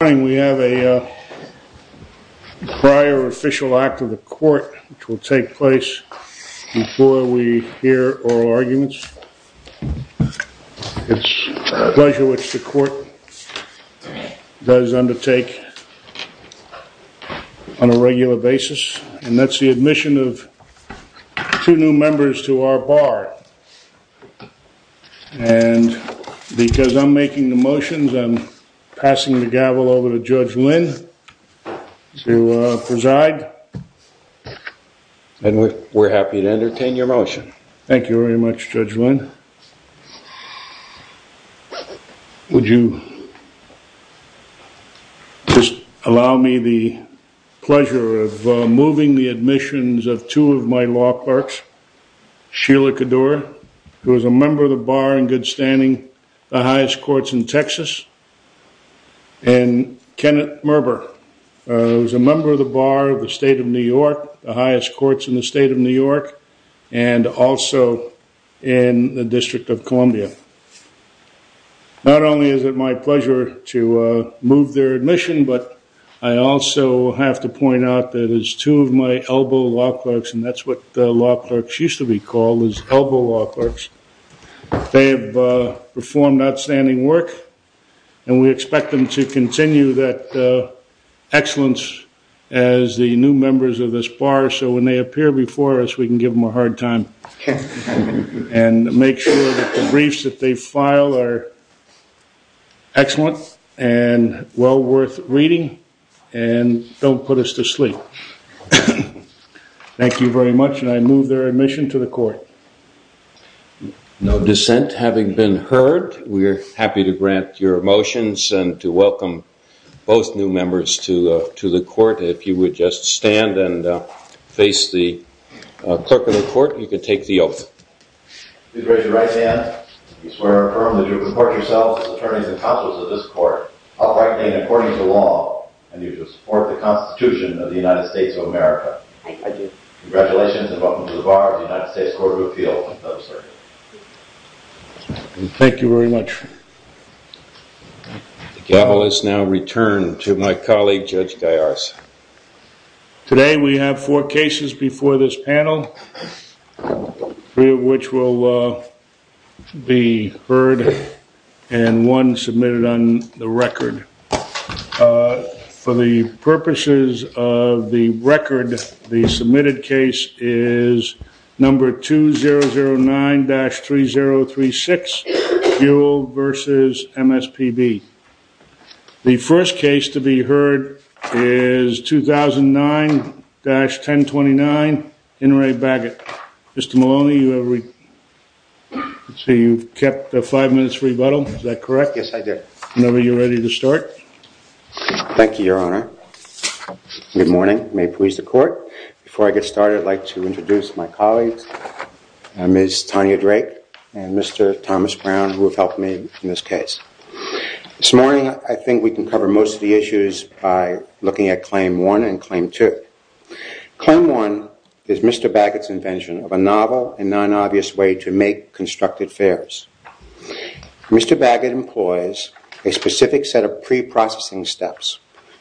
We have a prior official act of the court which will take place before we hear oral arguments. It's a pleasure which the court does undertake on a regular basis and that's the admission of two new members to our bar. And because I'm making the motions I'm passing the gavel over to Judge Lynn to preside. And we're happy to entertain your motion. Thank you very much Judge Lynn. Judge Lynn, would you just allow me the pleasure of moving the admissions of two of my law clerks. Sheila Cadour, who is a member of the bar in good standing, the highest courts in Texas. And Kenneth Merber, who is a member of the bar of the state of New York, the highest courts in the state of New York. And also in the District of Columbia. Not only is it my pleasure to move their admission, but I also have to point out that as two of my elbow law clerks, and that's what law clerks used to be called, was elbow law clerks. They have performed outstanding work and we expect them to continue that excellence as the new members of this bar. So when they appear before us we can give them a hard time. And make sure that the briefs that they file are excellent and well worth reading and don't put us to sleep. Thank you very much and I move their admission to the court. No dissent having been heard, we are happy to grant your motions and to welcome both new members to the court. If you would just stand and face the clerk of the court, you can take the oath. Please raise your right hand. We swear infirmly to report yourselves as attorneys and counsels of this court, uprightly and according to law, and to support the Constitution of the United States of America. I do. Congratulations and welcome to the bar of the United States Court of Appeal. Thank you very much. The gavel is now returned to my colleague, Judge Dyers. Today we have four cases before this panel. Three of which will be heard and one submitted on the record. For the purposes of the record, the submitted case is number 2009-3036, Buell v. MSPB. The first case to be heard is 2009-1029, Inouye Bagot. Mr. Maloney, you kept five minutes for rebuttal, is that correct? Yes, I did. Whenever you are ready to start. Thank you, Your Honor. Good morning. May it please the court. Before I get started, I would like to introduce my colleagues, Ms. Tanya Drake and Mr. Thomas Brown, who have helped me in this case. This morning, I think we can cover most of the issues by looking at Claim 1 and Claim 2. Claim 1 is Mr. Bagot's invention of a novel and non-obvious way to make constructed fares. Mr. Bagot employs a specific set of pre-processing steps,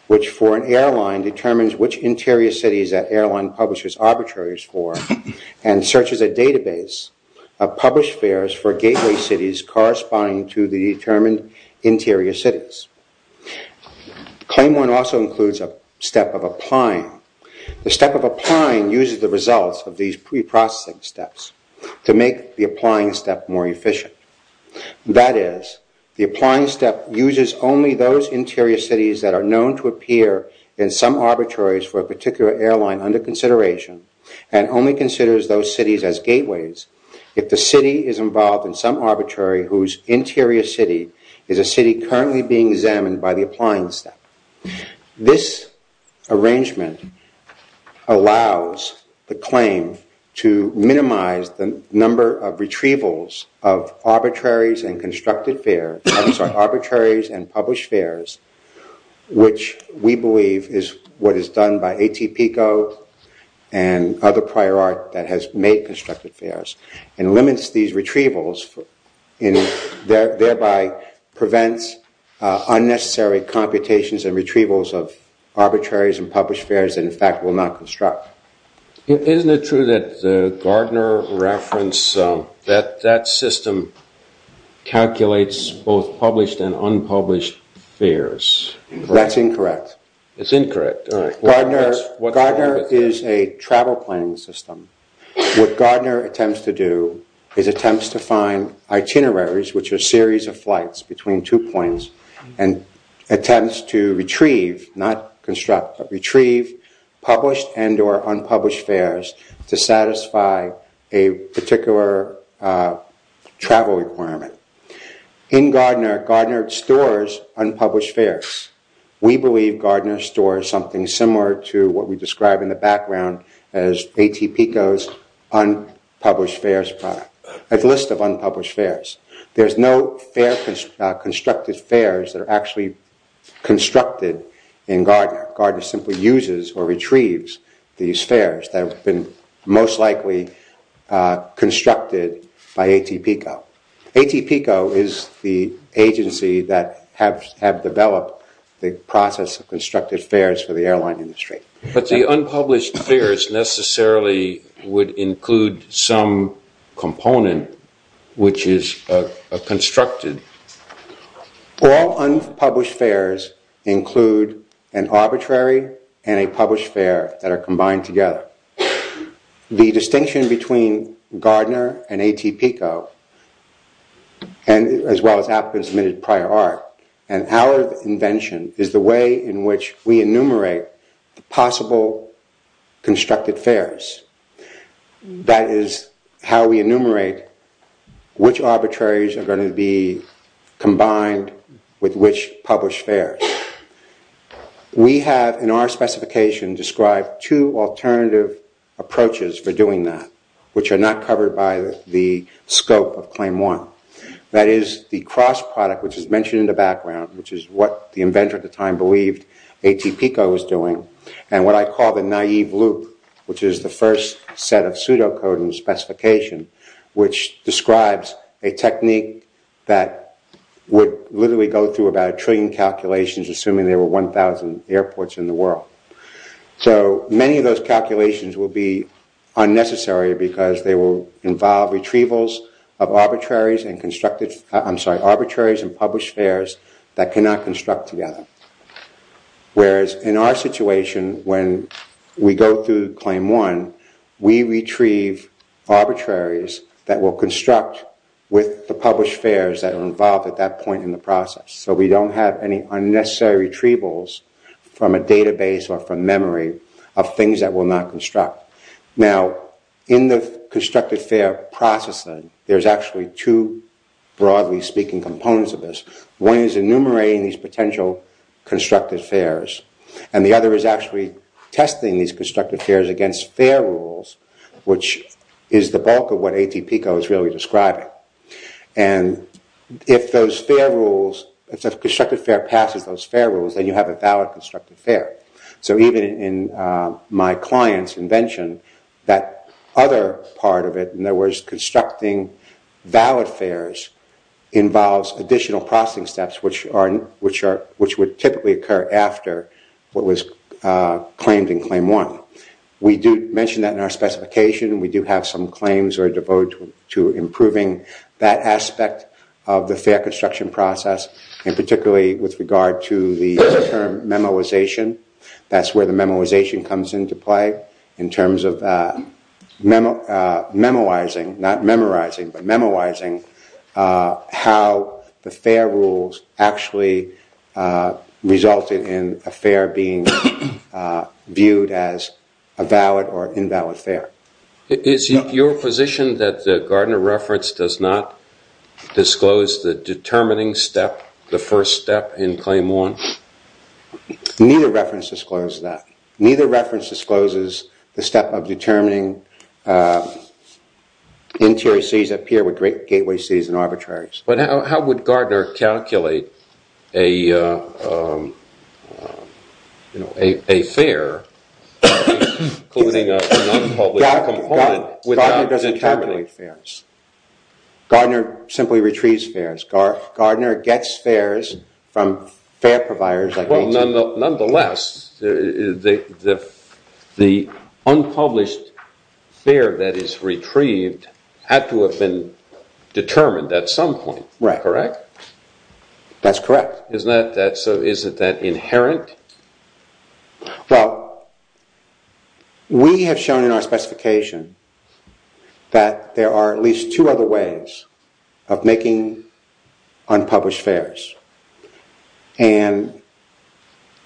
which for an airline determines which interior cities that airline publishes arbitraries for, and searches a database of published fares for gateway cities corresponding to the determined interior cities. Claim 1 also includes a step of applying. The step of applying uses the results of these pre-processing steps to make the applying step more efficient. That is, the applying step uses only those interior cities that are known to appear in some arbitraries for a particular airline under consideration, and only considers those cities as gateways if the city is involved in some arbitrary whose interior city is a city currently being examined by the applying step. This arrangement allows the claim to minimize the number of retrievals of arbitraries and constructed fares, I'm sorry, arbitraries and published fares, which we believe is what is done by ATPCO and other prior art that has made constructed fares, and limits these retrievals and thereby prevents unnecessary computations and retrievals of arbitraries and published fares that in fact will not construct. Isn't it true that Gardner reference, that system calculates both published and unpublished fares? That's incorrect. It's incorrect. Gardner is a travel planning system. What Gardner attempts to do is attempts to find itineraries, which are series of flights between two points, and attempts to retrieve, not construct, but retrieve published and or unpublished fares to satisfy a particular travel requirement. In Gardner, Gardner stores unpublished fares. We believe Gardner stores something similar to what we describe in the background as ATPCO's unpublished fares product, a list of unpublished fares. There's no constructed fares that are actually constructed in Gardner. Gardner simply uses or retrieves these fares that have been most likely constructed by ATPCO. ATPCO is the agency that have developed the process of constructed fares for the airline industry. But the unpublished fares necessarily would include some component which is constructed. All unpublished fares include an arbitrary and a published fare that are combined together. The distinction between Gardner and ATPCO, as well as applicants admitted prior art, and our invention is the way in which we enumerate possible constructed fares. That is how we enumerate which arbitraries are going to be combined with which published fares. We have in our specification described two alternative approaches for doing that, which are not covered by the scope of claim one. That is the cross product, which is mentioned in the background, which is what the inventor at the time believed ATPCO was doing, and what I call the naive loop, which is the first set of pseudocode and specification, which describes a technique that would literally go through about a trillion calculations, assuming there were 1,000 airports in the world. Many of those calculations will be unnecessary because they will involve retrievals of arbitraries and published fares that cannot construct together. Whereas in our situation, when we go through claim one, we retrieve arbitraries that will construct with the published fares that are involved at that point in the process. So we don't have any unnecessary retrievals from a database or from memory of things that will not construct. Now, in the constructed fare processing, there's actually two, broadly speaking, components of this. One is enumerating these potential constructed fares, and the other is actually testing these constructed fares against fare rules, which is the bulk of what ATPCO is really describing. And if those fare rules, if the constructed fare passes those fare rules, then you have a valid constructed fare. So even in my client's invention, that other part of it, in other words, constructing valid fares involves additional processing steps, which would typically occur after what was claimed in claim one. We do mention that in our specification. We do have some claims that are devoted to improving that aspect of the fare construction process, and particularly with regard to the term memoization. That's where the memoization comes into play in terms of memoizing, not memorizing, but memoizing how the fare rules actually resulted in a fare being viewed as a valid or invalid fare. Is it your position that Gardner Reference does not disclose the determining step, the first step in claim one? Neither reference discloses that. Neither reference discloses the step of determining interior cities that appear with great gateway cities and arbitraries. But how would Gardner calculate a fare? Gardner doesn't calculate fares. Gardner simply retrieves fares. Gardner gets fares from fare providers. Nonetheless, the unpublished fare that is retrieved had to have been determined at some point, correct? That's correct. Isn't that inherent? Well, we have shown in our specification that there are at least two other ways of making unpublished fares. And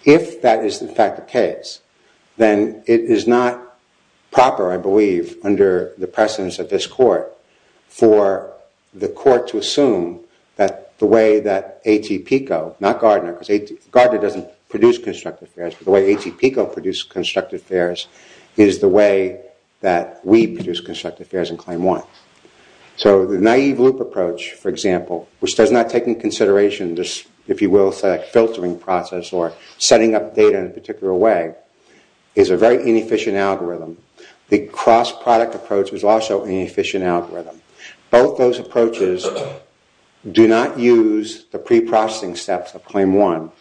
if that is in fact the case, then it is not proper, I believe, under the precedence of this court, for the court to assume that the way that A.T. Pico, not Gardner, because Gardner doesn't produce constructed fares, but the way A.T. Pico produces constructed fares is the way that we produce constructed fares in claim one. So the naive loop approach, for example, which does not take into consideration this, if you will, filtering process or setting up data in a particular way, is a very inefficient algorithm. The cross-product approach is also an inefficient algorithm. Both those approaches do not use the pre-processing steps of claim one.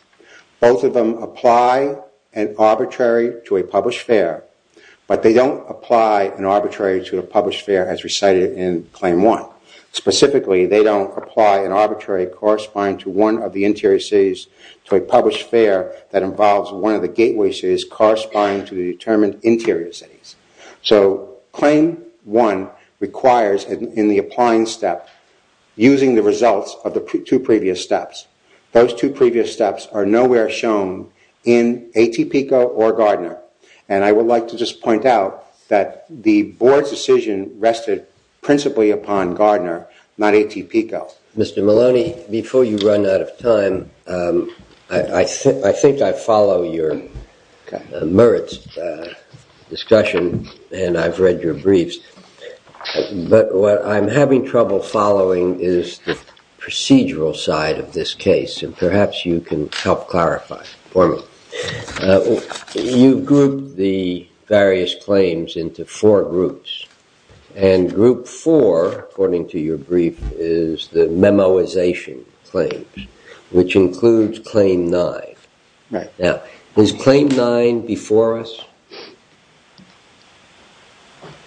Both of them apply an arbitrary to a published fare, but they don't apply an arbitrary to a published fare as recited in claim one. Specifically, they don't apply an arbitrary corresponding to one of the interior cities to a published fare that involves one of the gateways that is corresponding to the determined interior cities. So claim one requires, in the applying step, using the results of the two previous steps. Those two previous steps are nowhere shown in A.T. Pico or Gardner. And I would like to just point out that the board's decision rested principally upon Gardner, not A.T. Pico. Mr. Maloney, before you run out of time, I think I follow your merits discussion, and I've read your briefs. But what I'm having trouble following is the procedural side of this case, and perhaps you can help clarify for me. You group the various claims into four groups. And group four, according to your brief, is the memoization claims, which includes claim nine. Now, is claim nine before us?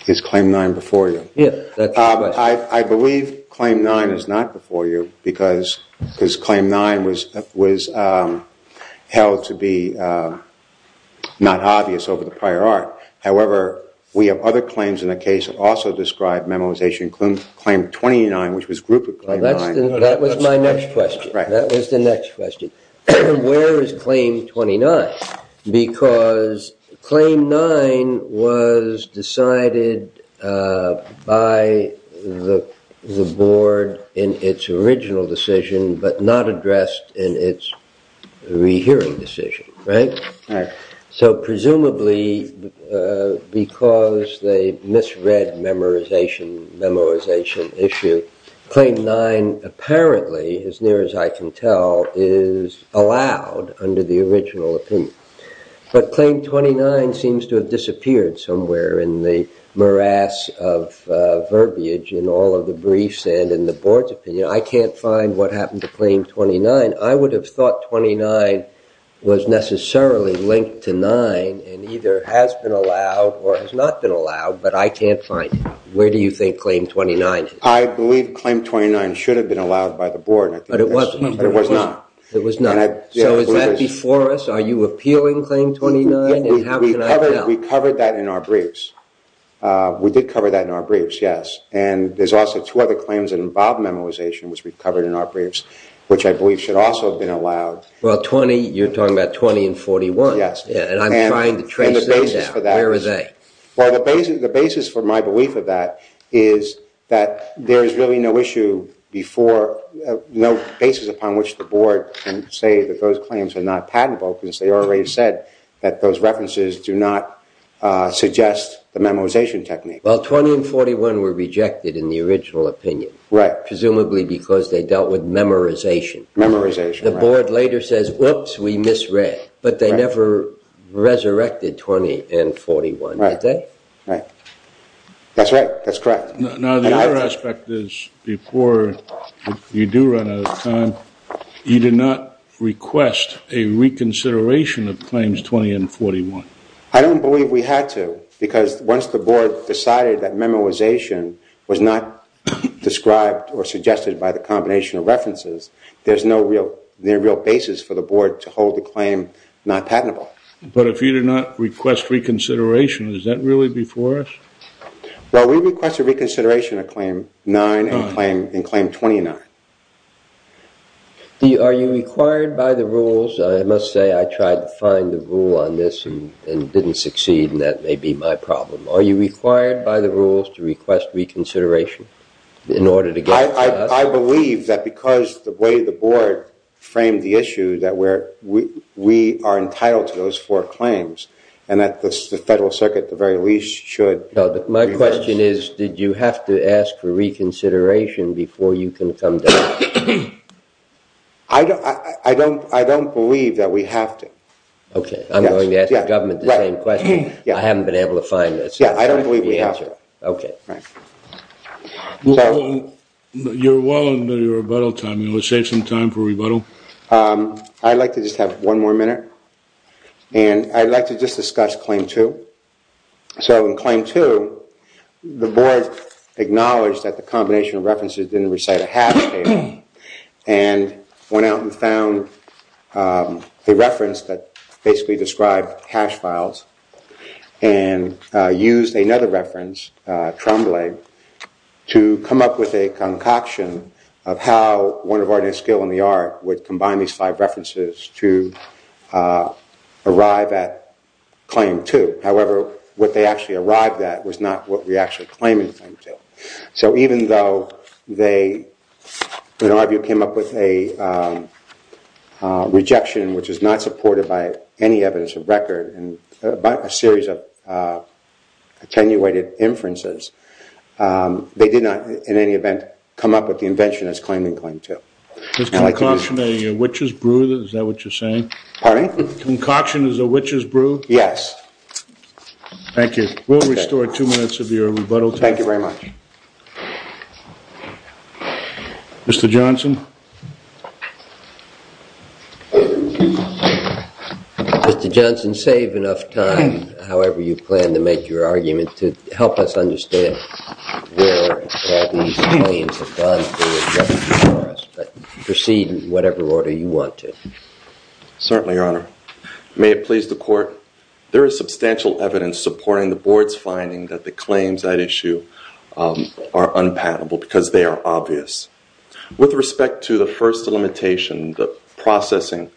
Is claim nine before you? I believe claim nine is not before you, because claim nine was held to be not obvious over the prior art. However, we have other claims in the case that also describe memoization, including claim 29, which was grouped with claim nine. That was my next question. That was the next question. Where is claim 29? Because claim nine was decided by the board in its original decision, but not addressed in its rehearing decision, right? So presumably because they misread memoization issue, claim nine apparently, as near as I can tell, is allowed under the original opinion. But claim 29 seems to have disappeared somewhere in the morass of verbiage in all of the briefs and in the board's opinion. I can't find what happened to claim 29. I would have thought 29 was necessarily linked to nine and either has been allowed or has not been allowed, but I can't find it. Where do you think claim 29 is? I believe claim 29 should have been allowed by the board. But it wasn't. But it was not. It was not. So is that before us? Are you appealing claim 29? How can I tell? We covered that in our briefs. We did cover that in our briefs, yes. And there's also two other claims that involve memoization, which we've covered in our briefs, which I believe should also have been allowed. Well, 20, you're talking about 20 and 41. Yes. And I'm trying to trace those down. Where are they? Well, the basis for my belief of that is that there is really no issue before, no basis upon which the board can say that those claims are not patentable, because they already said that those references do not suggest the memoization technique. Well, 20 and 41 were rejected in the original opinion. Right. Presumably because they dealt with memorization. Memorization, right. The board later says, oops, we misread. But they never resurrected 20 and 41, did they? Right. That's right. That's correct. Now, the other aspect is before you do run out of time, you did not request a reconsideration of claims 20 and 41. I don't believe we had to, because once the board decided that memoization was not described or suggested by the combination of references, there's no real basis for the board to hold the claim not patentable. But if you did not request reconsideration, is that really before us? Well, we requested reconsideration of claim 9 and claim 29. Are you required by the rules? I must say I tried to find the rule on this and didn't succeed, and that may be my problem. Are you required by the rules to request reconsideration in order to get it to us? I believe that because the way the board framed the issue that we are entitled to those four claims, and that the Federal Circuit, at the very least, should request it. My question is, did you have to ask for reconsideration before you can come to us? I don't believe that we have to. Okay. I'm going to ask the government the same question. I haven't been able to find the answer. I don't believe we have to. Okay. You're well into your rebuttal time. You want to save some time for rebuttal? I'd like to just have one more minute, and I'd like to just discuss claim 2. So in claim 2, the board acknowledged that the combination of references didn't recite a hash table and went out and found a reference that basically described hash files and used another reference, Tremblay, to come up with a concoction of how one of art and skill in the art would combine these five references to arrive at claim 2. However, what they actually arrived at was not what we actually claimed in claim 2. So even though they, in our view, came up with a rejection, which is not supported by any evidence of record by a series of attenuated inferences, they did not, in any event, come up with the invention as claimed in claim 2. Is concoction a witch's brew, is that what you're saying? Pardon me? Concoction is a witch's brew? Yes. Thank you. We'll restore two minutes of your rebuttal time. Thank you very much. Mr. Johnson? Mr. Johnson, save enough time, however you plan to make your argument, to help us understand where all these claims have gone to, but proceed in whatever order you want to. Certainly, Your Honor. May it please the Court, there is substantial evidence supporting the Board's finding that the claims at issue are unpatentable because they are obvious. With respect to the first limitation, the processing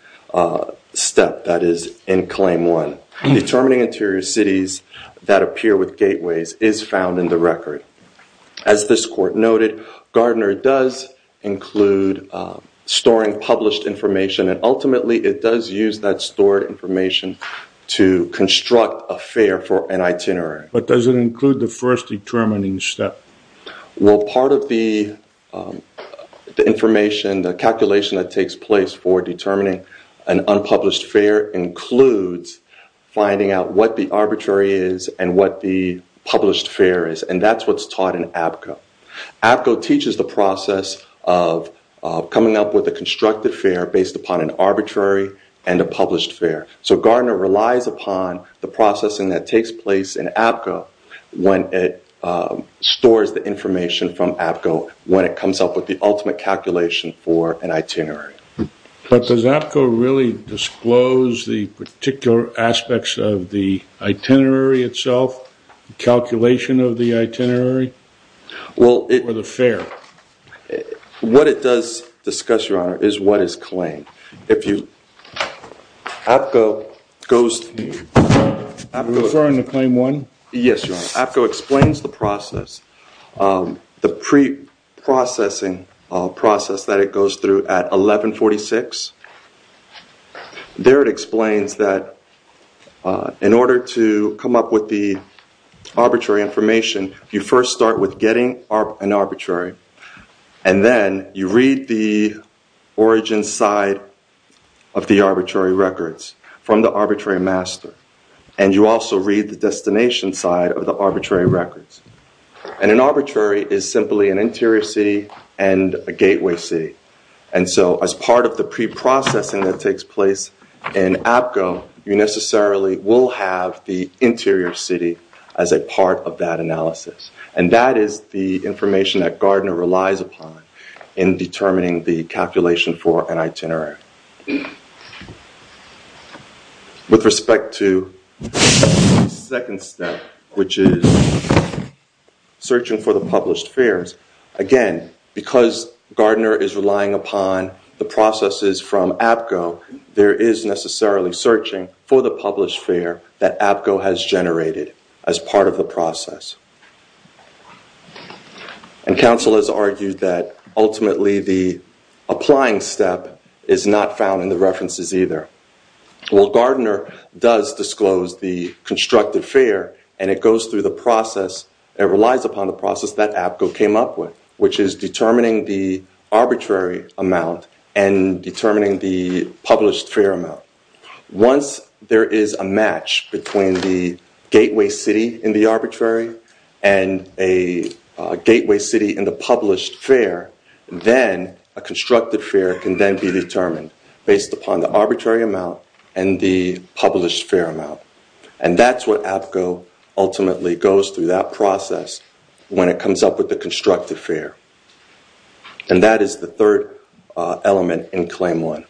step that is in claim 1, determining interior cities that appear with gateways is found in the record. As this Court noted, Gardner does include storing published information, and ultimately it does use that stored information to construct a fare for an itinerary. But does it include the first determining step? Well, part of the information, the calculation that takes place for determining an unpublished fare, includes finding out what the arbitrary is and what the published fare is, and that's what's taught in APCA. APCA teaches the process of coming up with a constructed fare based upon an arbitrary and a published fare. So Gardner relies upon the processing that takes place in APCA when it stores the information from APCA, when it comes up with the ultimate calculation for an itinerary. But does APCA really disclose the particular aspects of the itinerary itself, the calculation of the itinerary, or the fare? What it does discuss, Your Honor, is what is claimed. If you... APCA goes... Are you referring to claim one? Yes, Your Honor. APCA explains the process, the preprocessing process that it goes through at 1146. There it explains that in order to come up with the arbitrary information, you first start with getting an arbitrary, and then you read the origin side of the arbitrary records from the arbitrary master, and you also read the destination side of the arbitrary records. And an arbitrary is simply an interior city and a gateway city. And so as part of the preprocessing that takes place in APCA, you necessarily will have the interior city as a part of that analysis. And that is the information that Gardner relies upon in determining the calculation for an itinerary. With respect to the second step, which is searching for the published fares, again, because Gardner is relying upon the processes from APCO, there is necessarily searching for the published fare that APCO has generated as part of the process. And counsel has argued that ultimately the applying step is not found in the references either. Well, Gardner does disclose the constructed fare, and it goes through the process and relies upon the process that APCO came up with, which is determining the arbitrary amount and determining the published fare amount. Once there is a match between the gateway city in the arbitrary and a gateway city in the published fare, then a constructed fare can then be determined based upon the arbitrary amount and the published fare amount. And that's what APCO ultimately goes through that process when it comes up with the constructed fare. And that is the third element in claim one.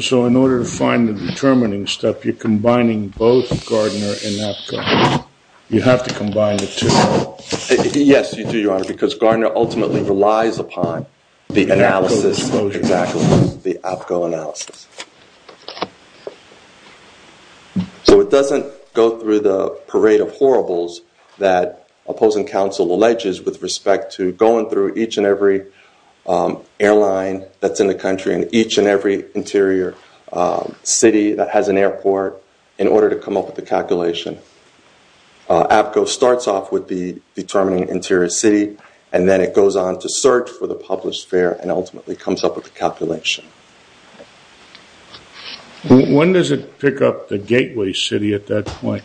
So in order to find the determining step, you're combining both Gardner and APCO. You have to combine the two. Yes, you do, Your Honor, because Gardner ultimately relies upon the analysis of the APCO analysis. So it doesn't go through the parade of horribles that opposing counsel alleges with respect to going through each and every airline that's in the country and each and every interior city that has an airport in order to come up with a calculation. APCO starts off with the determining interior city, and then it goes on to search for the published fare and ultimately comes up with the calculation. When does it pick up the gateway city at that point?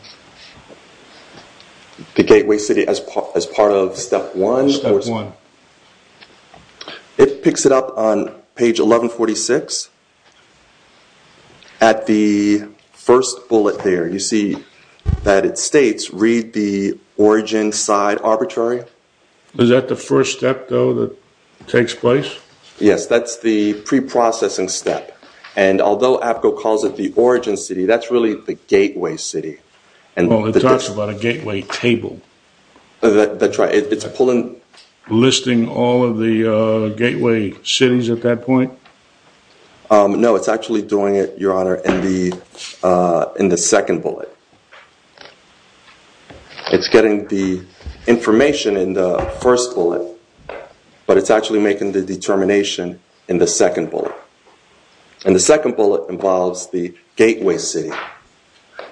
The gateway city as part of step one? Step one. It picks it up on page 1146. At the first bullet there, you see that it states, read the origin side arbitrary. Is that the first step, though, that takes place? Yes, that's the preprocessing step. And although APCO calls it the origin city, that's really the gateway city. Well, it talks about a gateway table. Listing all of the gateway cities at that point? No, it's actually doing it, Your Honor, in the second bullet. It's getting the information in the first bullet, but it's actually making the determination in the second bullet. And the second bullet involves the gateway city.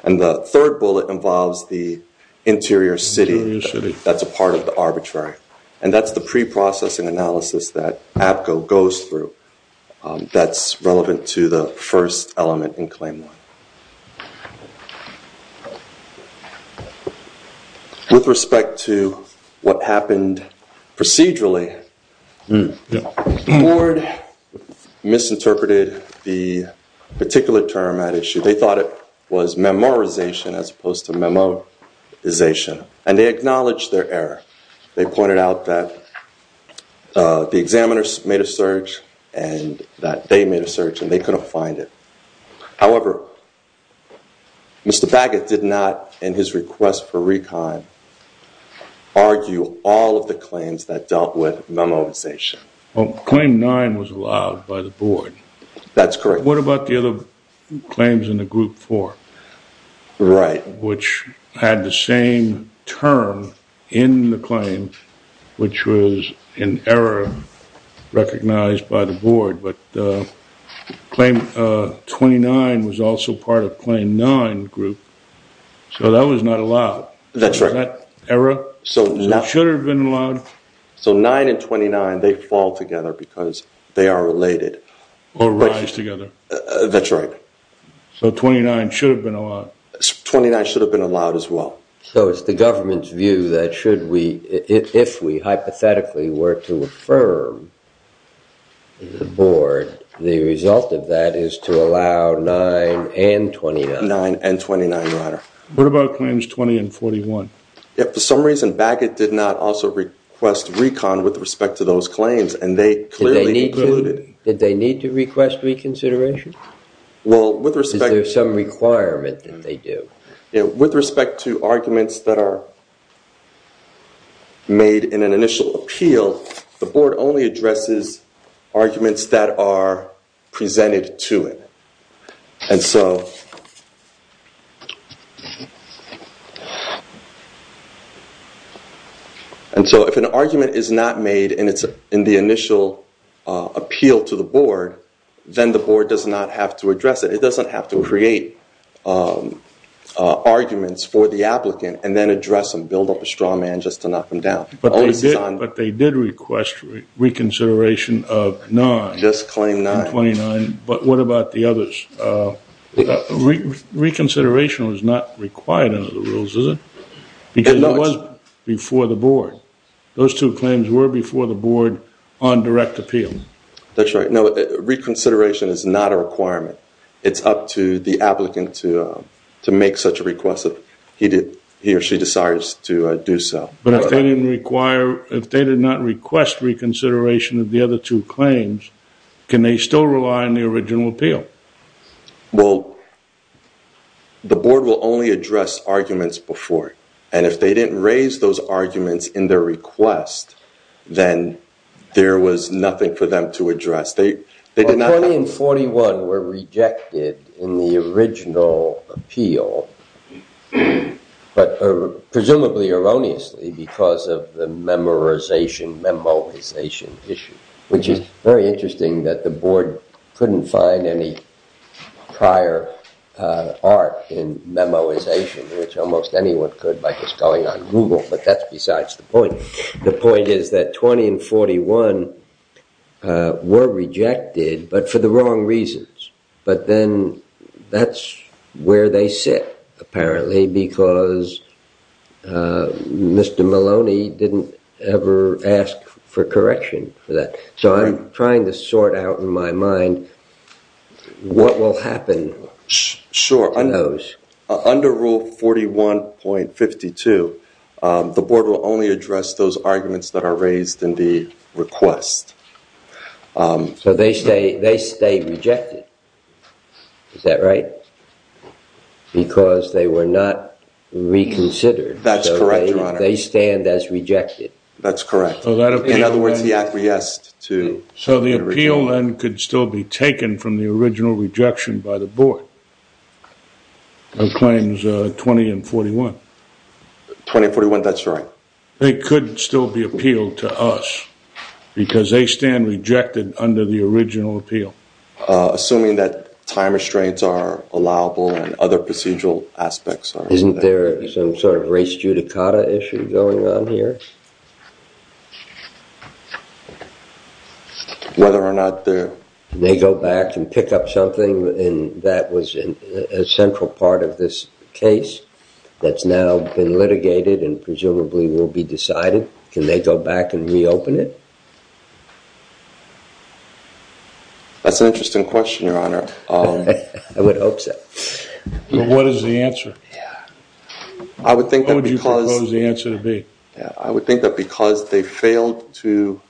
And the third bullet involves the interior city that's a part of the arbitrary. And that's the preprocessing analysis that APCO goes through. That's relevant to the first element in claim one. With respect to what happened procedurally, the board misinterpreted the particular term at issue. They thought it was memorization as opposed to memoization. And they acknowledged their error. They pointed out that the examiners made a search and that they made a search, and they couldn't find it. However, Mr. Baggett did not, in his request for recon, argue all of the claims that dealt with memoization. Claim nine was allowed by the board. That's correct. What about the other claims in the group four? Right. Which had the same term in the claim, which was an error recognized by the board. But claim 29 was also part of claim nine group. So that was not allowed. That's right. Is that error? So it should have been allowed. So nine and 29, they fall together because they are related. Or rise together. That's right. So 29 should have been allowed. 29 should have been allowed as well. So it's the government's view that if we hypothetically were to affirm the board, the result of that is to allow nine and 29. Nine and 29, your honor. What about claims 20 and 41? For some reason, Baggett did not also request recon with respect to those claims, and they clearly included it. Did they need to request reconsideration? Is there some requirement that they do? With respect to arguments that are made in an initial appeal, the board only addresses arguments that are presented to it. And so if an argument is not made and it's in the initial appeal to the board, then the board does not have to address it. It doesn't have to create arguments for the applicant and then address them, build up a straw man just to knock them down. But they did request reconsideration of nine. Just claim nine. But what about the others? Reconsideration is not required under the rules, is it? Because it was before the board. Those two claims were before the board on direct appeal. That's right. No, reconsideration is not a requirement. It's up to the applicant to make such a request if he or she decides to do so. But if they did not request reconsideration of the other two claims, can they still rely on the original appeal? Well, the board will only address arguments before. And if they didn't raise those arguments in their request, then there was nothing for them to address. 20 and 41 were rejected in the original appeal, but presumably erroneously because of the memorization, memoization issue, which is very interesting that the board couldn't find any prior art in memoization, which almost anyone could by just going on Google, but that's besides the point. The point is that 20 and 41 were rejected, but for the wrong reasons. But then that's where they sit, apparently, because Mr. Maloney didn't ever ask for correction for that. So I'm trying to sort out in my mind what will happen to those. Under Rule 41.52, the board will only address those arguments that are raised in the request. So they say they stay rejected. Is that right? Because they were not reconsidered. That's correct. They stand as rejected. That's correct. In other words, he acquiesced to. So the appeal could still be taken from the original rejection by the board. Claims 20 and 41. 20 and 41, that's right. They could still be appealed to us because they stand rejected under the original appeal. Assuming that time restraints are allowable and other procedural aspects. Isn't there some sort of race judicata issue going on here? Whether or not they go back and pick up something. And that was a central part of this case that's now been litigated and presumably will be decided. Can they go back and reopen it? That's an interesting question, Your Honor. I would hope so. What is the answer? What would you propose the answer to be? I would think that because they failed to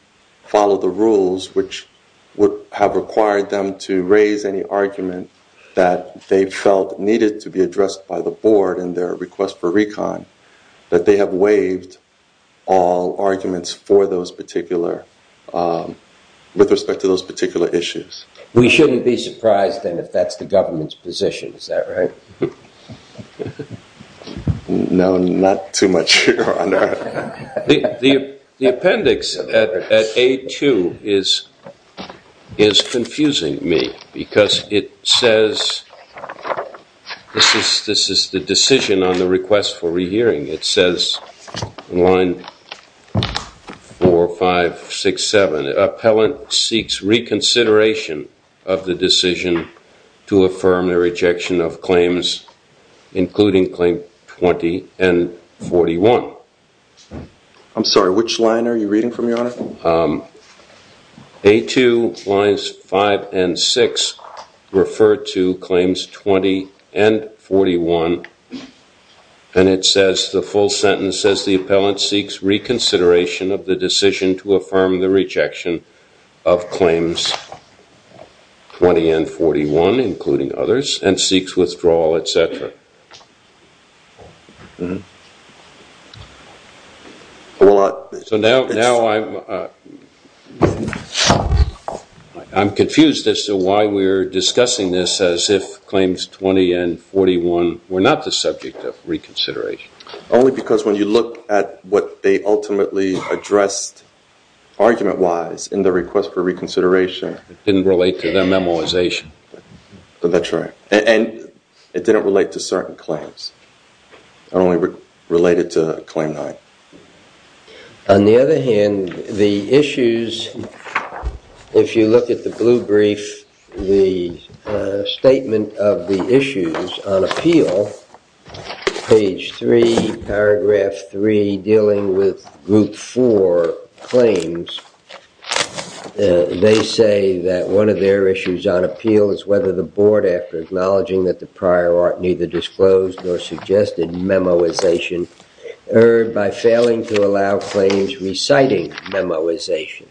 follow the rules, which would have required them to raise any argument that they felt needed to be addressed by the board in their request for recon, that they have waived all arguments for those particular, with respect to those particular issues. We shouldn't be surprised then if that's the government's position. Is that right? No, not too much, Your Honor. The appendix at A2 is confusing me because it says, this is the decision on the request for rehearing. It says in line 4, 5, 6, 7, an appellant seeks reconsideration of the decision to affirm their rejection of claims including claim 20 and 41. I'm sorry, which line are you reading from, Your Honor? A2 lines 5 and 6 refer to claims 20 and 41. And it says the full sentence says the appellant seeks reconsideration of the decision to affirm the rejection of claims 20 and 41, including others, and seeks withdrawal, et cetera. So now I'm confused as to why we're discussing this as if claims 20 and 41 were not the subject of reconsideration. Only because when you look at what they ultimately addressed argument-wise in the request for reconsideration, It didn't relate to their memoization. That's right. And it didn't relate to certain claims. It only related to claim 9. On the other hand, the issues, if you look at the blue brief, the statement of the issues on appeal, page 3, paragraph 3, dealing with group 4 claims, they say that one of their issues on appeal is whether the board, after acknowledging that the prior art neither disclosed nor suggested memoization, erred by failing to allow claims reciting memoization.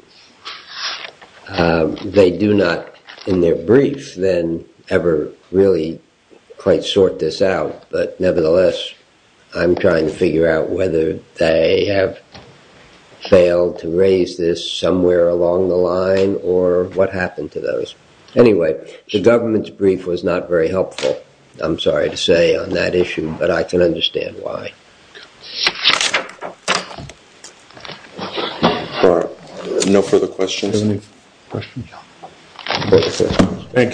They do not, in their brief, then ever really quite sort this out. But nevertheless, I'm trying to figure out whether they have failed to raise this somewhere along the line, or what happened to those. Anyway, the government's brief was not very helpful, I'm sorry to say, on that issue. But I can understand why. No further questions? Thank you,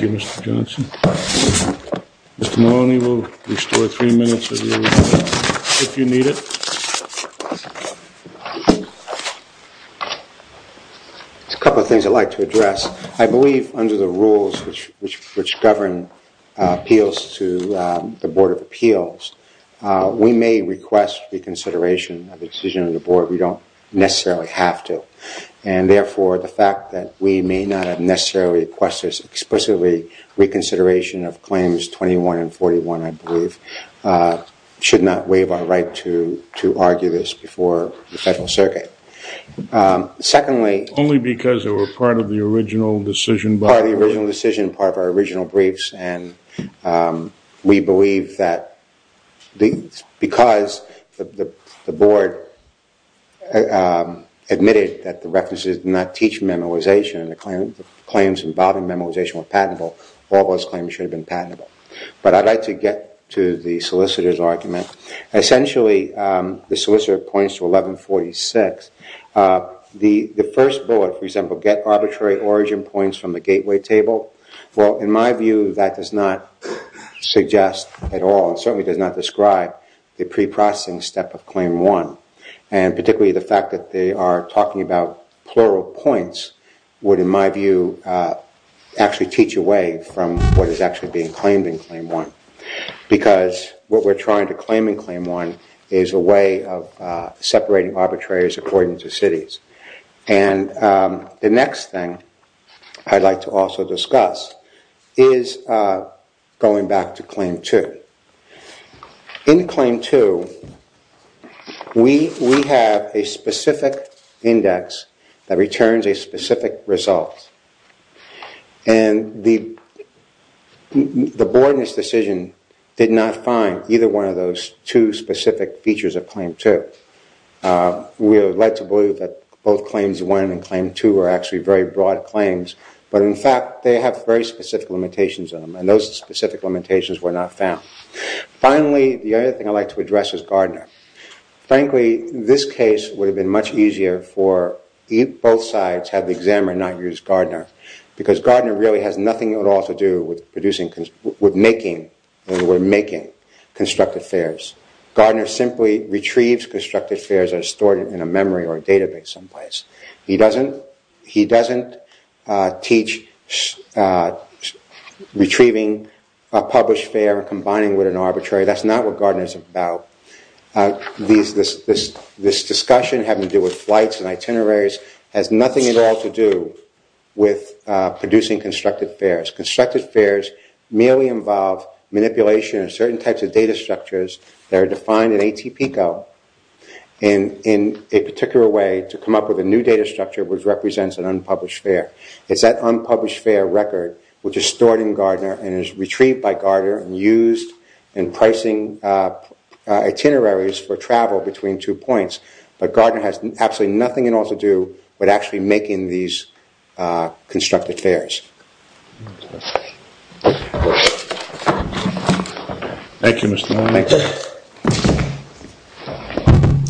Mr. Johnson. Mr. Maloney will restore three minutes if you need it. There's a couple of things I'd like to address. I believe under the rules which govern appeals to the Board of Appeals, we may request reconsideration of a decision of the board. We don't necessarily have to. And therefore, the fact that we may not necessarily request this explicitly, reconsideration of claims 21 and 41, I believe, should not waive our right to argue this before the Federal Circuit. Secondly, only because they were part of the original decision. Part of the original decision, part of our original briefs. And we believe that because the board admitted that the references did not teach memoization and the claims involving memoization were patentable, all those claims should have been patentable. But I'd like to get to the solicitor's argument. Essentially, the solicitor points to 1146. The first bullet, for example, get arbitrary origin points from the gateway table. Well, in my view, that does not suggest at all. It certainly does not describe the pre-processing step of claim one. And particularly the fact that they are talking about plural points would, in my view, actually teach away from what is actually being claimed in claim one. Because what we're trying to claim in claim one is a way of separating arbitrators according to cities. And the next thing I'd like to also discuss is going back to claim two. In claim two, we have a specific index that returns a specific result. And the board in this decision did not find either one of those two specific features of claim two. We would like to believe that both claims one and claim two are actually very broad claims. But in fact, they have very specific limitations on them. And those specific limitations were not found. Finally, the other thing I'd like to address is Gardner. Frankly, this case would have been much easier for both sides had Xamarin not used Gardner. Because Gardner really has nothing at all to do with making constructed fares. Gardner simply retrieves constructed fares that are stored in a memory or a database someplace. He doesn't teach retrieving a published fare and combining it with an arbitrary. That's not what Gardner is about. This discussion having to do with flights and itineraries has nothing at all to do with producing constructed fares. Constructed fares merely involve manipulation of certain types of data structures that are defined in ATPCO. And in a particular way to come up with a new data structure which represents an unpublished fare. It's that unpublished fare record which is stored in Gardner and is retrieved by Gardner and used in pricing itineraries for travel between two points. But Gardner has absolutely nothing at all to do with actually making these constructed fares. Thank you, Mr. Mone.